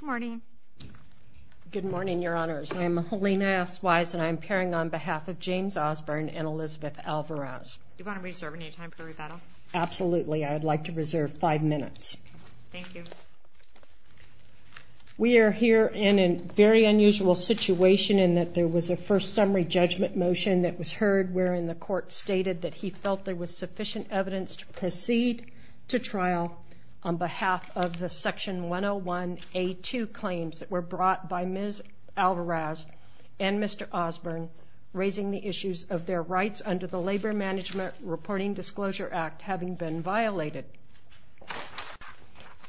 Good morning. Good morning, Your Honors. I am Helena S. Wise and I am pairing on behalf of James Osburn and Elizabeth Alvarez. Do you want to reserve any time for rebuttal? Absolutely. I would like to reserve five minutes. Thank you. We are here in a very unusual situation in that there was a first summary judgment motion that was heard wherein the court stated that he felt there was sufficient evidence to proceed to trial on behalf of the Section 101A2 claims that were brought by Ms. Alvarez and Mr. Osburn raising the issues of their rights under the Labor Management Reporting Disclosure Act having been violated.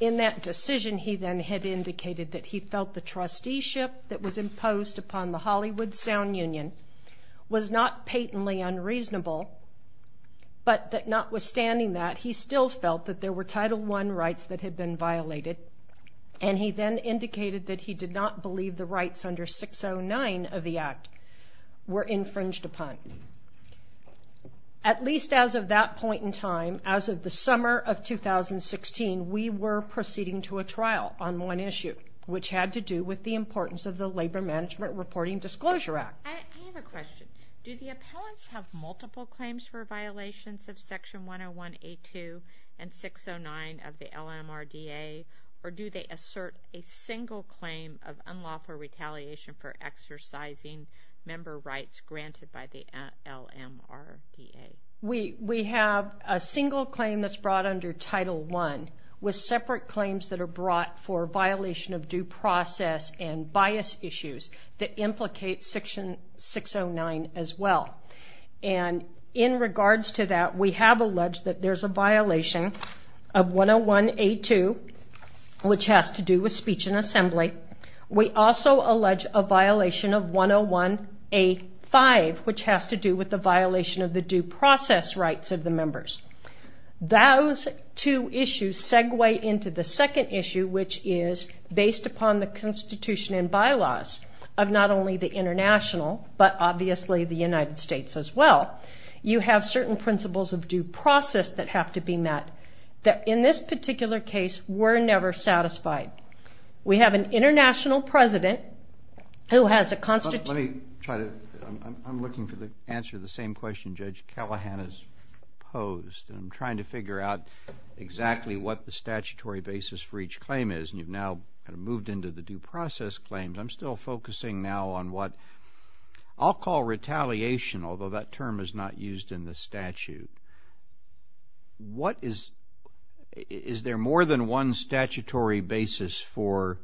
In that decision he then had indicated that he felt the trusteeship that was imposed upon the Hollywood Sound Union was not patently unreasonable but that notwithstanding that he still felt that there were Title I rights that had been violated and he then indicated that he did not believe the rights under 609 of the Act were infringed upon. At least as of that point in time, as of the summer of 2016, we were proceeding to a trial on one issue which had to do with the importance of the Labor Management Reporting Disclosure Act. I have a question. Do the appellants have multiple claims for violations of Section 101A2 and 609 of the LMRDA or do they assert a single claim of unlawful retaliation for exercising member rights granted by the LMRDA? We have a single claim that's brought under Title I with separate claims that are brought for violation of due process and bias issues that implicate Section 609 as well. In regards to that, we have alleged that there's a violation of 101A2 which has to do with speech in assembly. We also allege a violation of 101A5 which has to do with the violation of the due process rights of the members. Those two issues segue into the second issue which is based upon the constitution and bylaws of not only the international but obviously the United States as well. You have certain principles of due process that have to be met that in this particular case were never satisfied. We have an international president who has a constitutional... I'm looking for the answer to the same question Judge Callahan has posed. I'm trying to figure out exactly what the statutory basis for each claim is and you've now moved into the due process claims. I'm still focusing now on what I'll call retaliation although that term is not used in the statute. Is there more than one statutory basis for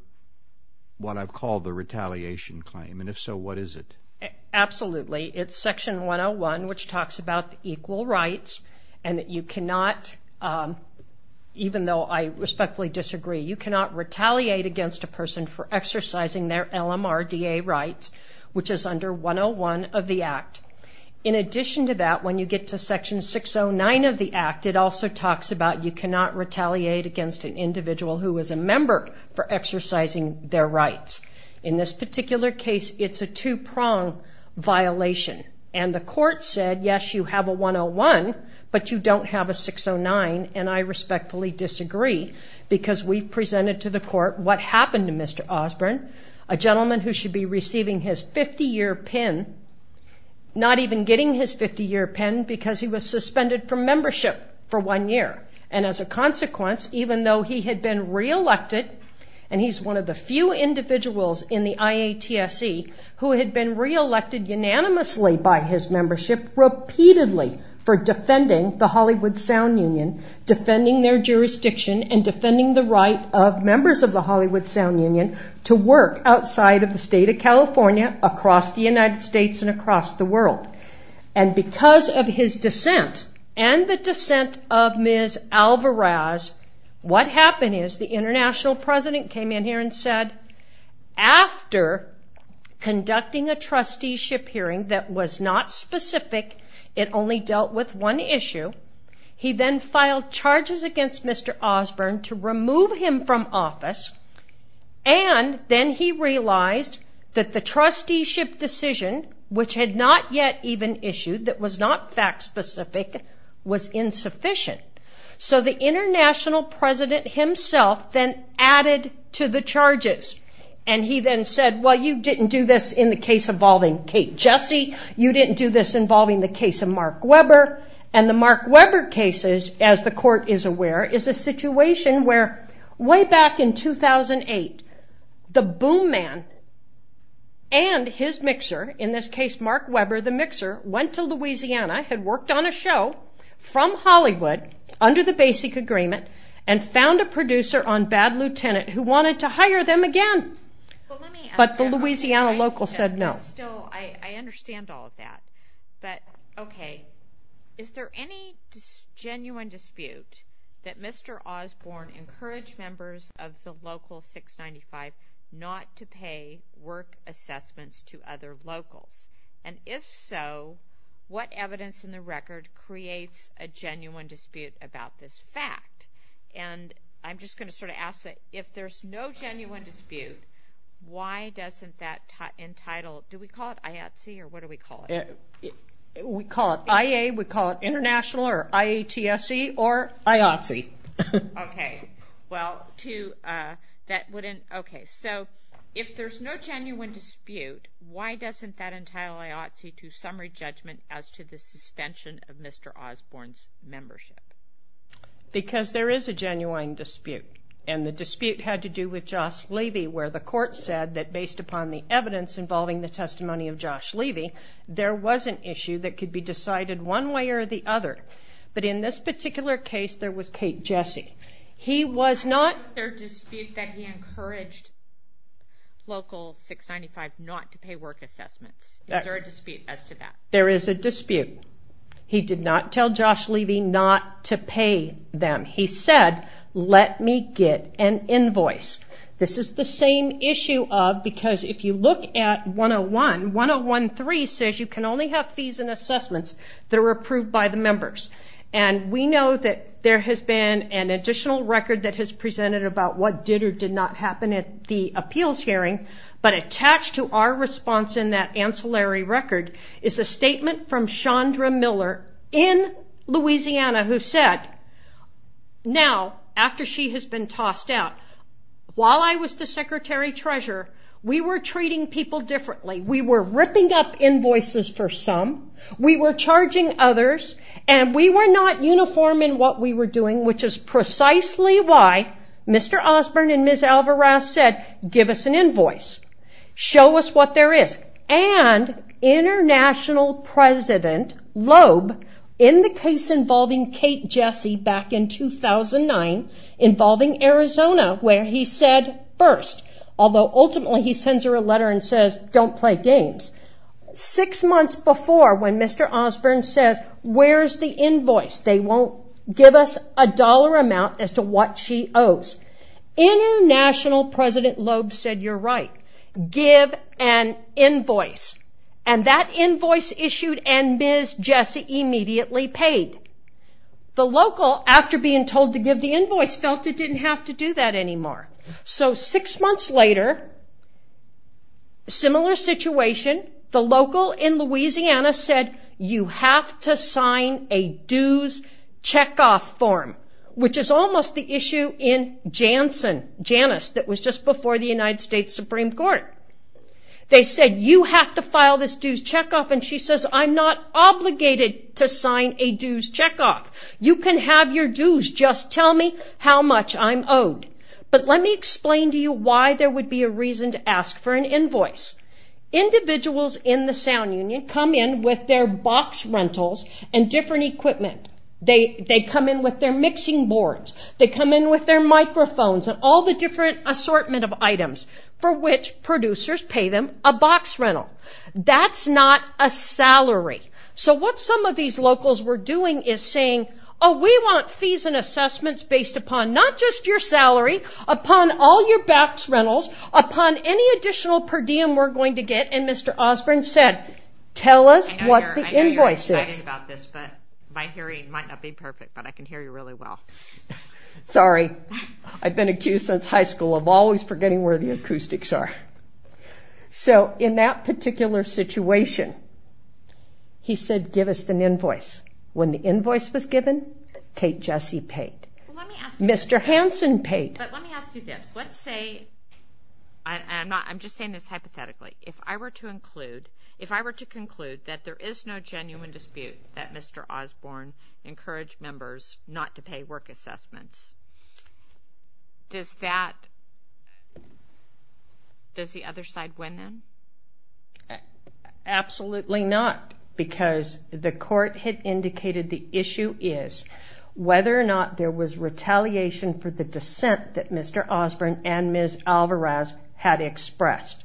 what I've called the retaliation claim and if so what is it? Absolutely. It's Section 101 which talks about equal rights and that you cannot, even though I respectfully disagree, you cannot retaliate against a person for exercising their LMRDA rights which is under 101 of the Act. In addition to that when you get to Section 609 of the Act it also talks about you cannot retaliate against an individual who is a member for exercising their rights. In this particular case it's a two-prong violation and the court said yes you have a 101 but you don't have a 609 and I respectfully disagree because we've presented to the court what happened to Mr. Osborne, a gentleman who should be receiving his 50-year pin, not even getting his 50-year pin because he was suspended from membership for one year and as a consequence even though he had been re-elected and he's one of the few individuals in the IATSE who had been re-elected unanimously by his membership repeatedly for defending the Hollywood Sound Union, defending their jurisdiction and defending the right of members of the Hollywood Sound Union to work outside of the state of California, across the United States and across the world and because of his dissent and the dissent of Ms. Alvarez, what happened is the international president came in here and said after conducting a trusteeship hearing that was not specific, it only dealt with one issue, he then filed charges against Mr. Osborne to remove him from office and then he realized that the trusteeship decision which had not yet even issued, that was not fact specific, was insufficient. So the international president himself then added to the charges and he then said well you didn't do this in the case involving Kate Jesse, you didn't do this involving the case of Mark Webber and the Mark Webber cases as the court is aware is a situation where way back in 2008, the boom man and his mixer, in this case Mark Webber the mixer, went to Louisiana, had worked on a show from Hollywood under the basic agreement and found a producer on Bad Lieutenant who wanted to hire them again but the Louisiana local said no. So I understand all of that but okay, is there any genuine dispute that Mr. Osborne encouraged members of the local 695 not to pay work assessments to other locals and if so, what evidence in the record creates a genuine dispute about this fact? And I'm just going to sort of ask that if there's no genuine dispute, why doesn't that entitle, do we call it IATSE or what do we call it? We call it IA, we call it international or IATSE or IATSE. Okay, so if there's no genuine dispute, why doesn't that entitle IATSE to summary judgment as to the suspension of Mr. Osborne's membership? Because there is a genuine dispute and the dispute had to do with Josh Levy where the court said that based upon the evidence involving the testimony of Josh Levy, there was an issue that could be decided one way or the other. But in this particular case, there was Kate Jesse. He was not... Is there a dispute that he encouraged local 695 not to pay work assessments? Is there a dispute as to that? There is a dispute. He did not tell Josh Levy not to pay them. He said, let me get an invoice. This is the same issue of, because if you look at 101, 101.3 says you can only have fees and assessments that are approved by the members. And we know that there has been an additional record that has presented about what did or did not happen at the appeals hearing, but attached to our response in that ancillary record is a statement from Chandra Miller in Louisiana who said, now, after she has been tossed out, while I was the secretary treasurer, we were treating people differently. We were ripping up invoices for some. We were charging others. And we were not uniform in what we were doing, which is precisely why Mr. Osborne and Ms. Alvarez said, give us an invoice. Show us what there is. And International President Loeb, in the case involving Kate Jesse back in 2009, involving Arizona where he said first, although ultimately he sends her a letter and says, don't play games. Six months before when Mr. Osborne says, where is the invoice? They won't give us a dollar amount as to what she owes. International President Loeb said, you're right. Give an invoice. And that invoice issued and Ms. Jesse immediately paid. The local, after being told to give the invoice, felt it didn't have to do that anymore. So six months later, similar situation. The local in Louisiana said, you have to sign a dues checkoff form, which is almost the issue in Janus that was just before the United States Supreme Court. They said, you have to file this dues checkoff. And she says, I'm not obligated to sign a dues checkoff. You can have your dues. Just tell me how much I'm owed. But let me explain to you why there would be a reason to ask for an invoice. Individuals in the sound union come in with their box rentals and different equipment. They come in with their mixing boards. They come in with their microphones and all the different assortment of items for which producers pay them a box rental. That's not a salary. So what some of these locals were doing is saying, oh, we want fees and assessments based upon not just your salary, upon all your box rentals, upon any additional per diem we're going to get. And Mr. Osborne said, tell us what the invoice is. I'm sorry about this, but my hearing might not be perfect, but I can hear you really well. Sorry. I've been accused since high school of always forgetting where the acoustics are. So in that particular situation, he said, give us an invoice. When the invoice was given, Kate Jesse paid. Mr. Hansen paid. But let me ask you this. Let's say, I'm just saying this hypothetically. If I were to include, if I were to conclude that there is no genuine dispute that Mr. Osborne encouraged members not to pay work assessments, does that, does the other side win then? Absolutely not. Because the court had indicated the issue is whether or not there was retaliation for the dissent that Mr. Osborne and Ms. Alvarez had expressed.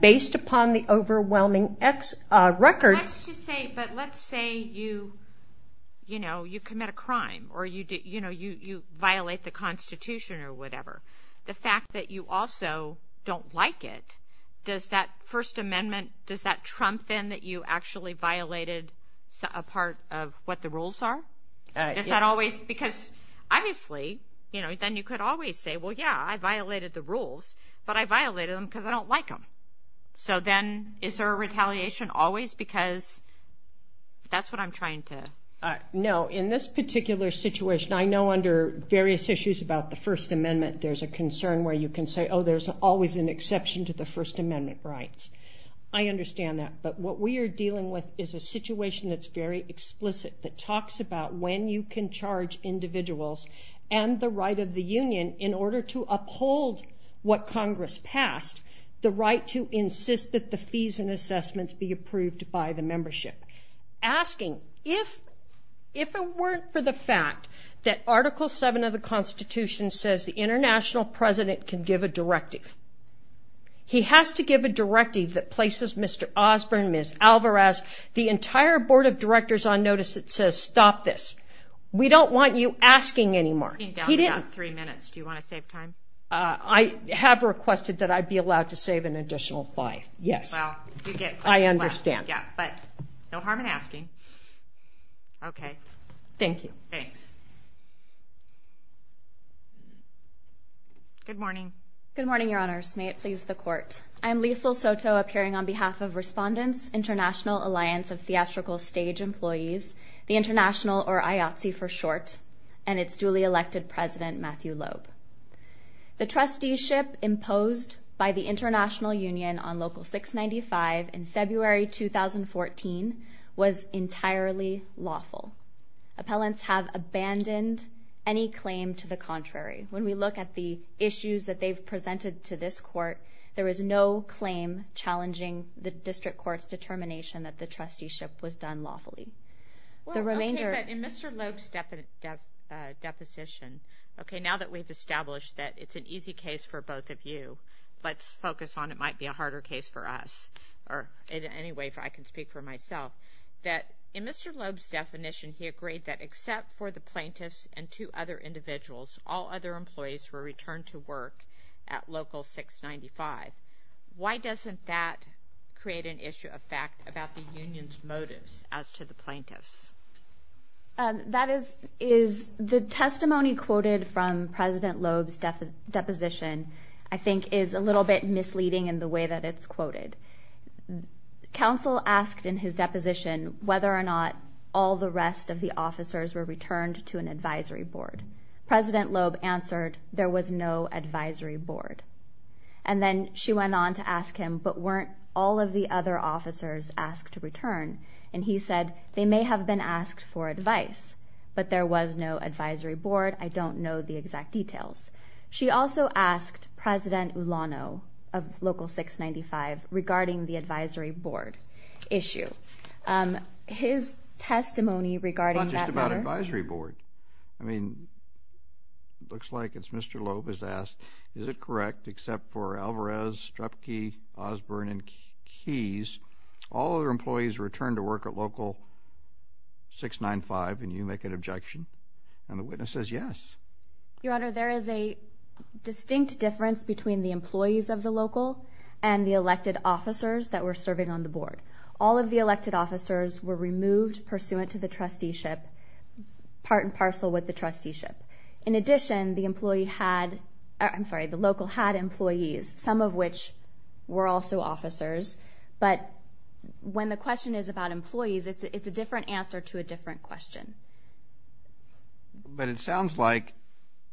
Based upon the overwhelming X records. Let's just say, but let's say you, you know, you commit a crime or you, you know, you violate the Constitution or whatever. The fact that you also don't like it, does that First Amendment, does that trump in that you actually violated a part of what the rules are? Is that always, because obviously, you know, then you could always say, well, yeah, I violated the rules, but I violated them because I don't like them. So then, is there a retaliation always? Because that's what I'm trying to. No, in this particular situation, I know under various issues about the First Amendment, there's a concern where you can say, oh, there's always an exception to the First Amendment rights. I understand that, but what we are dealing with is a situation that's very explicit, that talks about when you can charge individuals and the right of the union in order to uphold what Congress passed. The right to insist that the fees and assessments be approved by the membership. Asking, if, if it weren't for the fact that Article 7 of the Constitution says the international president can give a directive. He has to give a directive that places Mr. Osborne, Ms. Alvarez, the entire board of directors on notice that says, stop this. We don't want you asking anymore. You're down to three minutes. Do you want to save time? I have requested that I'd be allowed to save an additional five. Yes. I understand. No harm in asking. Okay. Thank you. Thanks. Good morning. Good morning, Your Honors. May it please the Court. I'm Liesl Soto, appearing on behalf of Respondents, International Alliance of Theatrical Stage Employees, the International, or IATSE for short, and its duly elected president, Matthew Loeb. The trusteeship imposed by the International Union on Local 695 in February 2014 was entirely lawful. Appellants have abandoned any claim to the contrary. When we look at the issues that they've presented to this Court, there is no claim challenging the District Court's determination that the trusteeship was done lawfully. Well, okay, but in Mr. Loeb's deposition, okay, now that we've established that it's an easy case for both of you, let's focus on it might be a harder case for us, or in any way I can speak for myself, that in Mr. Loeb's definition he agreed that except for the plaintiffs and two other individuals, all other employees were returned to work at Local 695. Why doesn't that create an issue of fact about the Union's motives as to the plaintiffs? That is, the testimony quoted from President Loeb's deposition I think is a little bit misleading in the way that it's quoted. Council asked in his deposition whether or not all the rest of the officers were returned to an advisory board. President Loeb answered, there was no advisory board. And then she went on to ask him, but weren't all of the other officers asked to return? And he said, they may have been asked for advice, but there was no advisory board. I don't know the exact details. She also asked President Ulano of Local 695 regarding the advisory board issue. His testimony regarding that matter... It's not just about advisory board. I mean, looks like it's Mr. Loeb who's asked, is it correct except for Alvarez, Strupke, Osborne, and Keyes, all other employees returned to work at Local 695 and you make an objection? And the witness says yes. Your Honor, there is a distinct difference between the employees of the Local and the elected officers that were serving on the board. All of the elected officers were removed pursuant to the trusteeship, part and parcel with the trusteeship. In addition, the local had employees, some of which were also officers. But when the question is about employees, it's a different answer to a different question. But it sounds like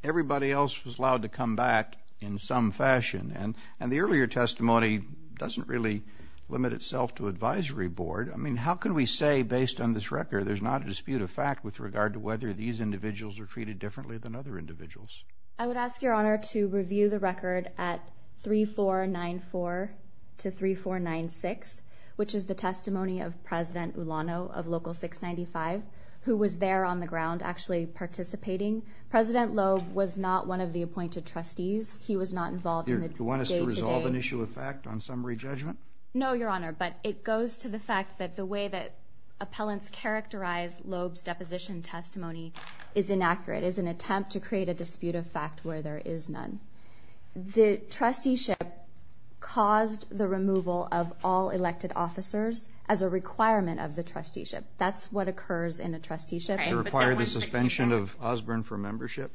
everybody else was allowed to come back in some fashion. And the earlier testimony doesn't really limit itself to advisory board. I mean, how can we say based on this record there's not a dispute of fact with regard to whether these individuals are treated differently than other individuals? I would ask Your Honor to review the record at 3494 to 3496, which is the testimony of President Ulano of Local 695, who was there on the ground actually participating. President Loeb was not one of the appointed trustees. He was not involved in the day-to-day. Do you want us to resolve an issue of fact on summary judgment? No, Your Honor, but it goes to the fact that the way that appellants characterize Loeb's deposition testimony is inaccurate. It is an attempt to create a dispute of fact where there is none. The trusteeship caused the removal of all elected officers as a requirement of the trusteeship. That's what occurs in a trusteeship. To require the suspension of Osborne from membership?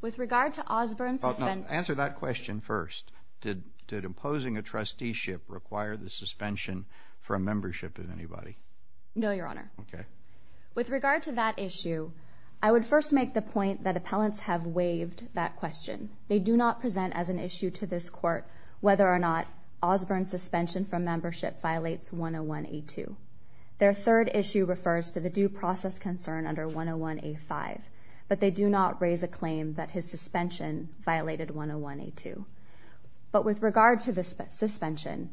With regard to Osborne's suspension... Answer that question first. Did imposing a trusteeship require the suspension from membership of anybody? No, Your Honor. Okay. With regard to that issue, I would first make the point that appellants have waived that question. They do not present as an issue to this Court whether or not Osborne's suspension from membership violates 101A2. Their third issue refers to the due process concern under 101A5. But they do not raise a claim that his suspension violated 101A2. But with regard to the suspension,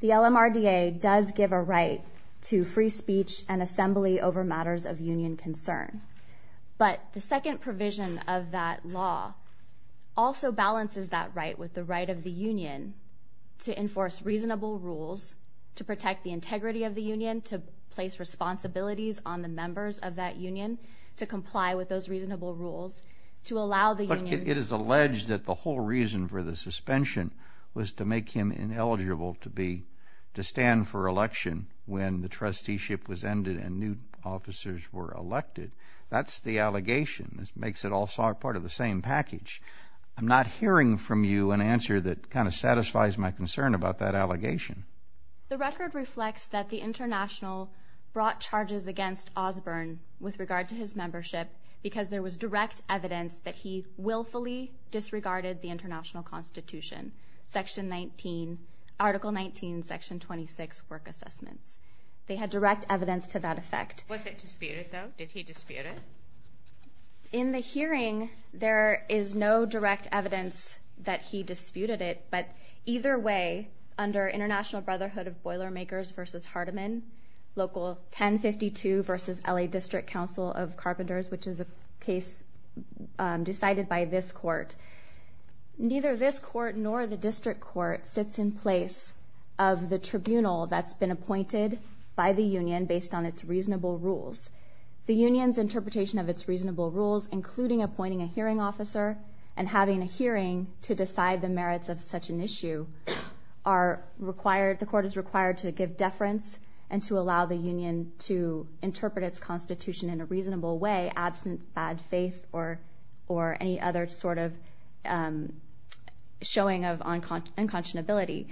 the LMRDA does give a right to free speech and assembly over matters of union concern. But the second provision of that law also balances that right with the right of the union to enforce reasonable rules, to protect the integrity of the union, to place responsibilities on the members of that union, to comply with those reasonable rules, to allow the union... But it is alleged that the whole reason for the suspension was to make him ineligible to be... to stand for election when the trusteeship was ended and new officers were elected. That's the allegation. This makes it all part of the same package. I'm not hearing from you an answer that kind of satisfies my concern about that allegation. The record reflects that the International brought charges against Osborne with regard to his membership because there was direct evidence that he willfully disregarded the International Constitution, Section 19, Article 19, Section 26 work assessments. They had direct evidence to that effect. Was it disputed, though? Did he dispute it? In the hearing, there is no direct evidence that he disputed it, but either way, under International Brotherhood of Boilermakers v. Hardeman, Local 1052 v. L.A. District Council of Carpenters, which is a case decided by this court, neither this court nor the district court sits in place of the tribunal that's been appointed by the union based on its reasonable rules. The union's interpretation of its reasonable rules, including appointing a hearing officer and having a hearing to decide the merits of such an issue, the court is required to give deference and to allow the union to interpret its Constitution in a reasonable way, absent bad faith or any other sort of showing of unconscionability.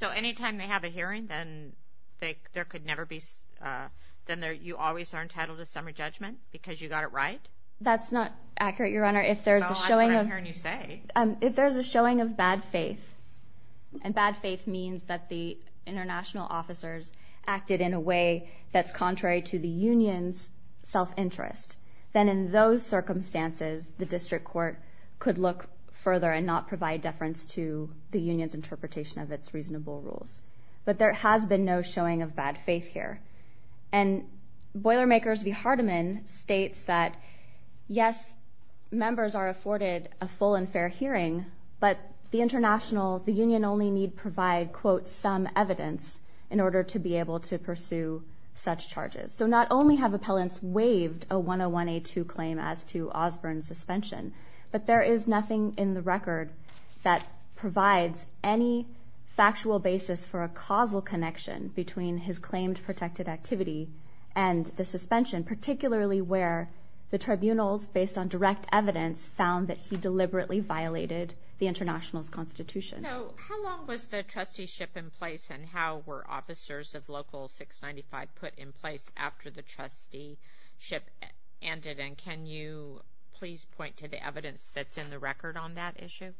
So anytime they have a hearing, then you always are entitled to summary judgment because you got it right? That's not accurate, Your Honor. No, that's what I heard you say. If there's a showing of bad faith, and bad faith means that the international officers acted in a way that's contrary to the union's self-interest, then in those circumstances, the district court could look further and not provide deference to the union's interpretation of its reasonable rules. But there has been no showing of bad faith here. And Boilermakers v. Hardeman states that, yes, members are afforded a full and fair hearing, but the international, the union only need provide, quote, some evidence in order to be able to pursue such charges. So not only have appellants waived a 101A2 claim as to Osborne's suspension, but there is nothing in the record that provides any factual basis for a causal connection between his claimed protected activity and the suspension, particularly where the tribunals, based on direct evidence, found that he deliberately violated the international's constitution. So how long was the trusteeship in place, and how were officers of Local 695 put in place after the trusteeship ended? And can you please point to the evidence that's in the record on that issue?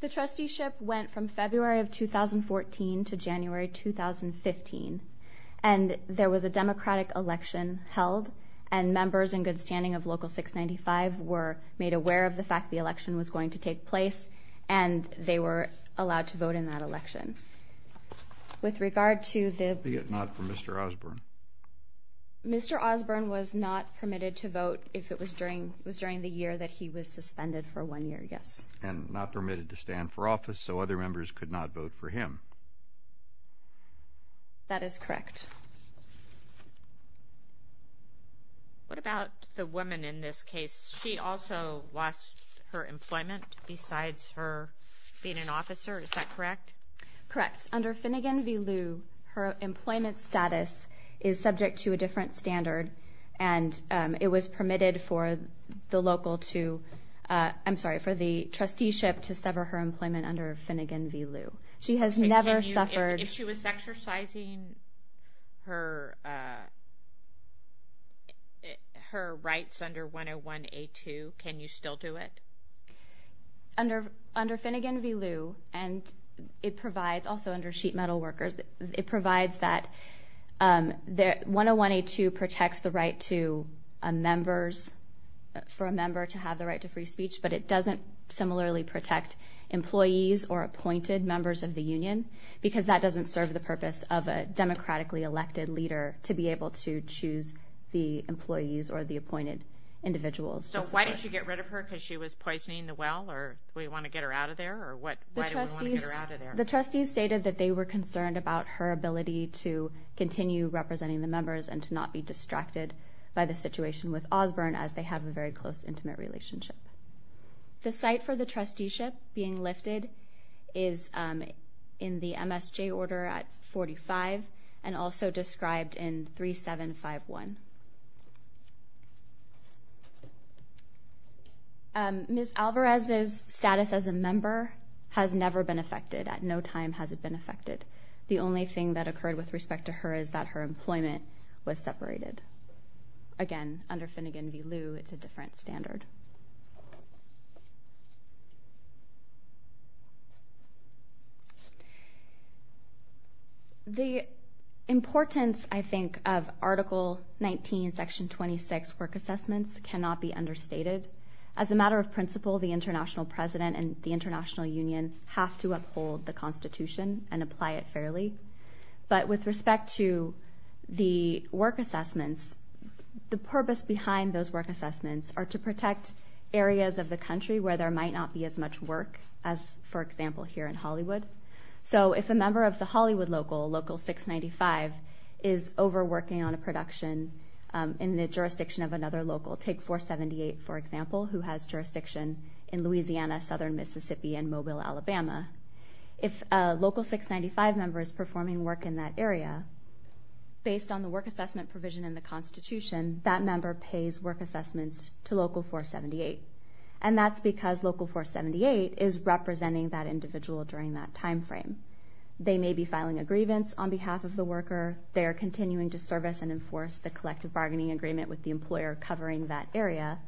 The trusteeship went from February of 2014 to January 2015, and there was a Democratic election held, and members in good standing of Local 695 were made aware of the fact the election was going to take place, and they were allowed to vote in that election. With regard to the... Be it not for Mr. Osborne. Mr. Osborne was not permitted to vote if it was during the year that he was suspended for one year, yes. He was not permitted to stand for office, so other members could not vote for him. That is correct. What about the woman in this case? She also lost her employment besides her being an officer, is that correct? Correct. Under Finnegan v. Liu, her employment status is subject to a different standard, and it was permitted for the local to... I'm sorry, for the trusteeship to sever her employment under Finnegan v. Liu. She has never suffered... If she was exercising her rights under 101A2, can you still do it? Under Finnegan v. Liu, and it provides, also under sheet metal workers, it provides that 101A2 protects the right to members, for a member to have the right to free speech, but it doesn't similarly protect employees or appointed members of the union, because that doesn't serve the purpose of a democratically elected leader to be able to choose the employees or the appointed individuals. So why didn't you get rid of her, because she was poisoning the well, or we want to get her out of there, or what? Why do we want to get her out of there? The trustees stated that they were concerned about her ability to continue representing the members and to not be distracted by the situation with Osborne, as they have a very close, intimate relationship. The site for the trusteeship being lifted is in the MSJ order at 45, and also described in 3751. Ms. Alvarez's status as a member has never been affected. At no time has it been affected. The only thing that occurred with respect to her is that her employment was separated. Again, under Finnegan v. Liu, it's a different standard. The importance, I think, of Article 19, Section 26 work assessments cannot be understated. As a matter of principle, the international president and the international union have to uphold the Constitution and apply it fairly. But with respect to the work assessments, the purpose behind those work assessments are to protect areas of the country where there might not be as much work as, for example, here in Hollywood. If a member of the Hollywood local, Local 695, is overworking on a production in the jurisdiction of another local, take 478, for example, who has jurisdiction in Louisiana, southern Mississippi, and Mobile, Alabama. If a Local 695 member is performing work in that area, based on the work assessment provision in the Constitution, that member pays work assessments to Local 478. And that's because Local 478 is representing that individual during that time frame. They may be filing a grievance on behalf of the worker. They're continuing to service and enforce the collective bargaining agreement with the employer covering that area.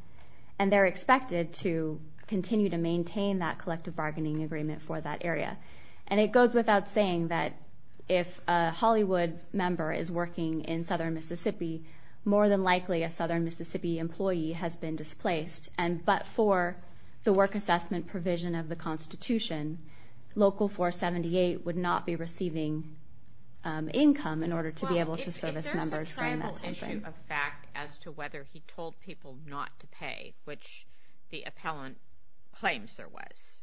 And they're expected to continue to maintain that collective bargaining agreement for that area. And it goes without saying that if a Hollywood member is working in southern Mississippi, more than likely a southern Mississippi employee has been displaced. But for the work assessment provision of the Constitution, Local 478 would not be receiving income in order to be able to service members during that time frame. Well, if there's a tribal issue of fact as to whether he told people not to pay, which the appellant claims there was,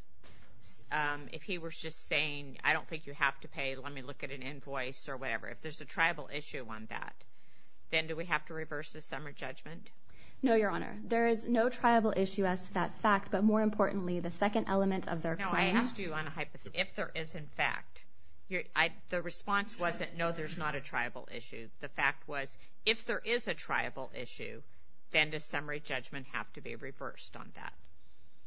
if he was just saying, I don't think you have to pay. Let me look at an invoice or whatever. If there's a tribal issue on that, then do we have to reverse the summary judgment? No, Your Honor. There is no tribal issue as to that fact. But more importantly, the second element of their claim... No, I asked you on a hypothesis. If there is in fact... The response wasn't, no, there's not a tribal issue. The fact was, if there is a tribal issue, then does summary judgment have to be reversed on that?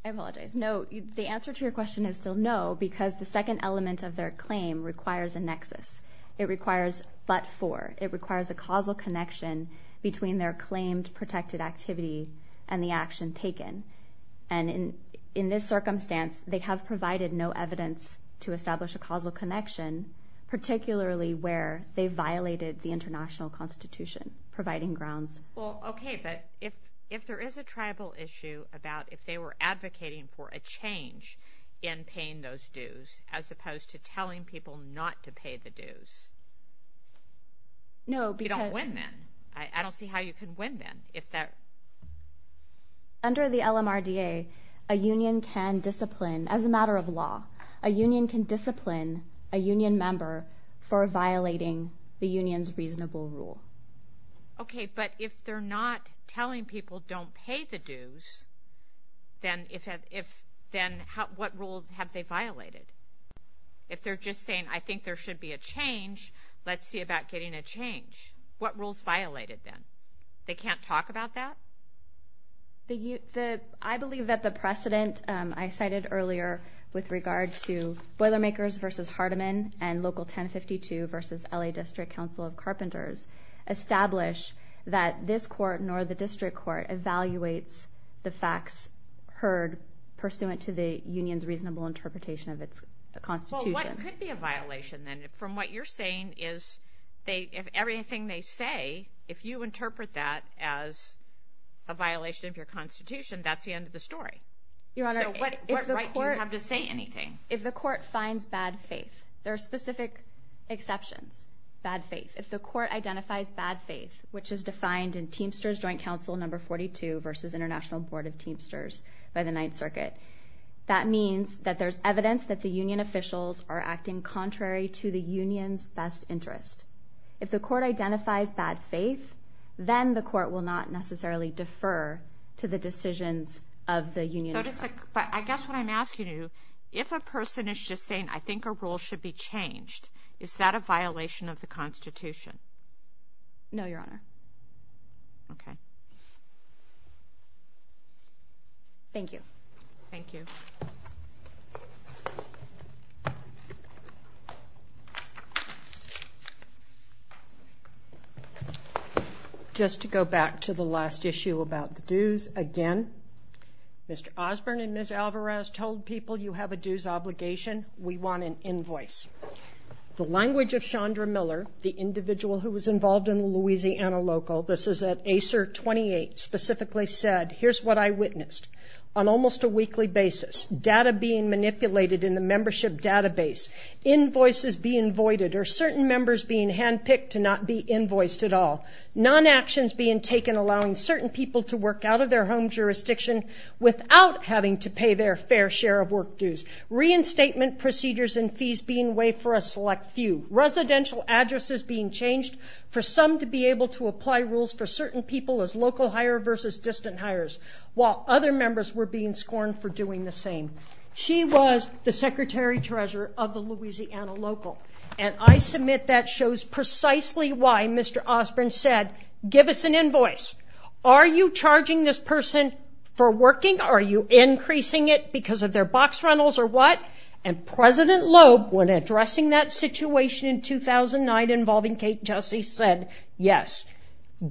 I apologize. No, the answer to your question is still no because the second element of their claim requires a nexus. It requires but for. It requires a causal connection between their claimed protected activity and the action taken. And in this circumstance, they have provided no evidence to establish a causal connection, particularly where they violated the international constitution providing grounds. Well, okay. But if there is a tribal issue about if they were advocating for a change in paying those dues as opposed to telling people not to pay the dues... No, because... You don't win then. I don't see how you can win then if that... Under the LMRDA, a union can discipline, as a matter of law, a union can discipline a union member for violating the union's reasonable rule. Okay. But if they're not telling people don't pay the dues, then what rule have they violated? If they're just saying I think there should be a change, let's see about getting a change. What rules violated them? They can't talk about that? I believe that the precedent I cited earlier with regard to Boilermakers versus Hardeman and Local 1052 versus LA District Council of Carpenters establish that this court nor the district court evaluates the facts heard pursuant to the union's reasonable interpretation of its constitution. Well, what could be a violation then from what you're saying is if everything they say, if you interpret that as a violation of your constitution, that's the end of the story. Your Honor, if the court... What right do you have to say anything? If the court finds bad faith, there are specific exceptions, bad faith. If the court identifies bad faith, which is defined in Teamsters that there's evidence that the union officials are acting contrary to the union's best interest. If the court identifies bad faith, then the court will not necessarily defer to the decisions of the union officials. But I guess what I'm asking you, if a person is just saying I think a rule should be changed, is that a violation of the constitution? No, Your Honor. Okay. Thank you. Thank you. Just to go back to the last issue about the dues again, Mr. Osborne and Ms. Alvarez told people you have a dues obligation. We want an invoice. The language of Chandra Miller, the individual who was involved in the Louisiana local, this is at ACER 28, specifically said, here's what I witnessed on almost a weekly basis. Data being manipulated in the membership database. Invoices being voided or certain members being handpicked to not be invoiced at all. Non-actions being taken allowing certain people to work out of their home jurisdiction without having to pay their fair share of work dues. Reinstatement procedures and fees being waived for a select few. While other members were being scorned for doing the same. She was the secretary-treasurer of the Louisiana local. And I submit that shows precisely why Mr. Osborne said, give us an invoice. Are you charging this person for working? Are you increasing it because of their box rentals or what? And President Loeb when addressing that situation in 2009 involving Kate Jussie said, yes,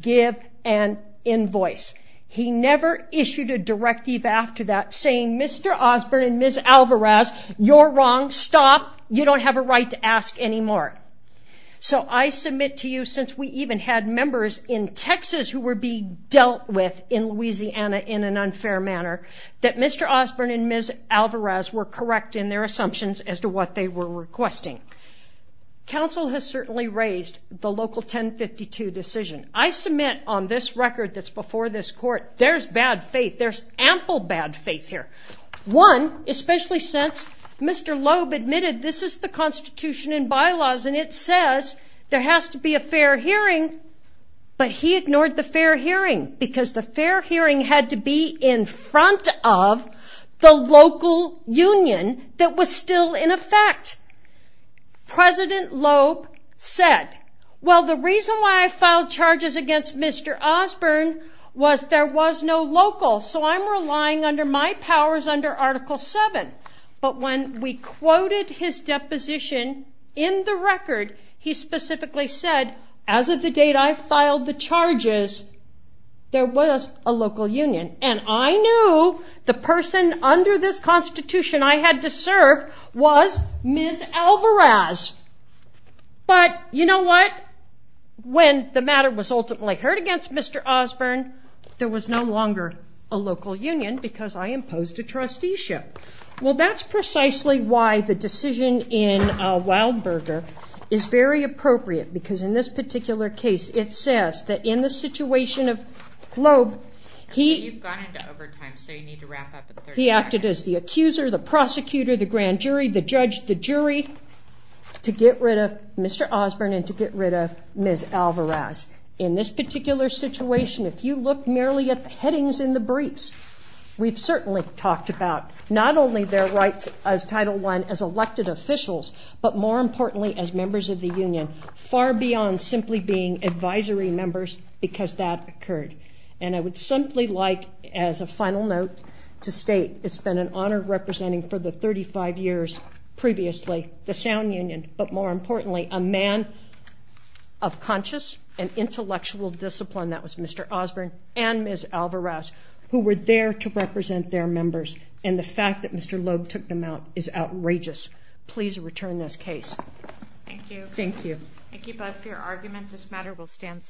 give an invoice. He never issued a directive after that saying, Mr. Osborne and Ms. Alvarez, you're wrong, stop. You don't have a right to ask anymore. So I submit to you since we even had members in Texas who were being dealt with in Louisiana in an unfair manner that Mr. Osborne and Ms. Alvarez were correct in their assumptions as to what they were requesting. Council has certainly raised the local 1052 decision. I submit on this record there's bad faith. There's ample bad faith here. One, especially since Mr. Loeb admitted this is the Constitution and bylaws and it says there has to be a fair hearing but he ignored the fair hearing because the fair hearing had to be in front of the local union that was still in effect. President Loeb said, well, the reason why I filed charges against Mr. Osborne was there was no local so I'm relying under my powers under Article VII but when we quoted his deposition in the record he specifically said as of the date I filed the charges there was a local union and I knew the person under this Constitution I had to serve was Ms. Alvarez but you know what? When the matter was ultimately heard against Mr. Osborne there was no longer a local union because I imposed a trusteeship. Well, that's precisely why the decision in Wildberger is very appropriate because in this particular case it says that in the situation of Loeb he acted as the accuser, the prosecutor, the grand jury, the judge, the jury to get rid of Mr. Osborne and to get rid of Ms. Alvarez. In this particular situation if you look merely at the headings in the briefs we've certainly talked about not only their rights as Title I as elected officials but more importantly as members of the union far beyond simply being advisory members because that occurred and I would simply like as a final note to state it's been an honor representing for the 35 years previously the sound union but more importantly a man of conscious and intellectual discipline that was Mr. Osborne and Ms. Alvarez who were there to represent their members and the fact that Mr. Loeb took them out is outrageous. Please return this case. Thank you. Thank you. Thank you both for your argument. This matter will stand substituted.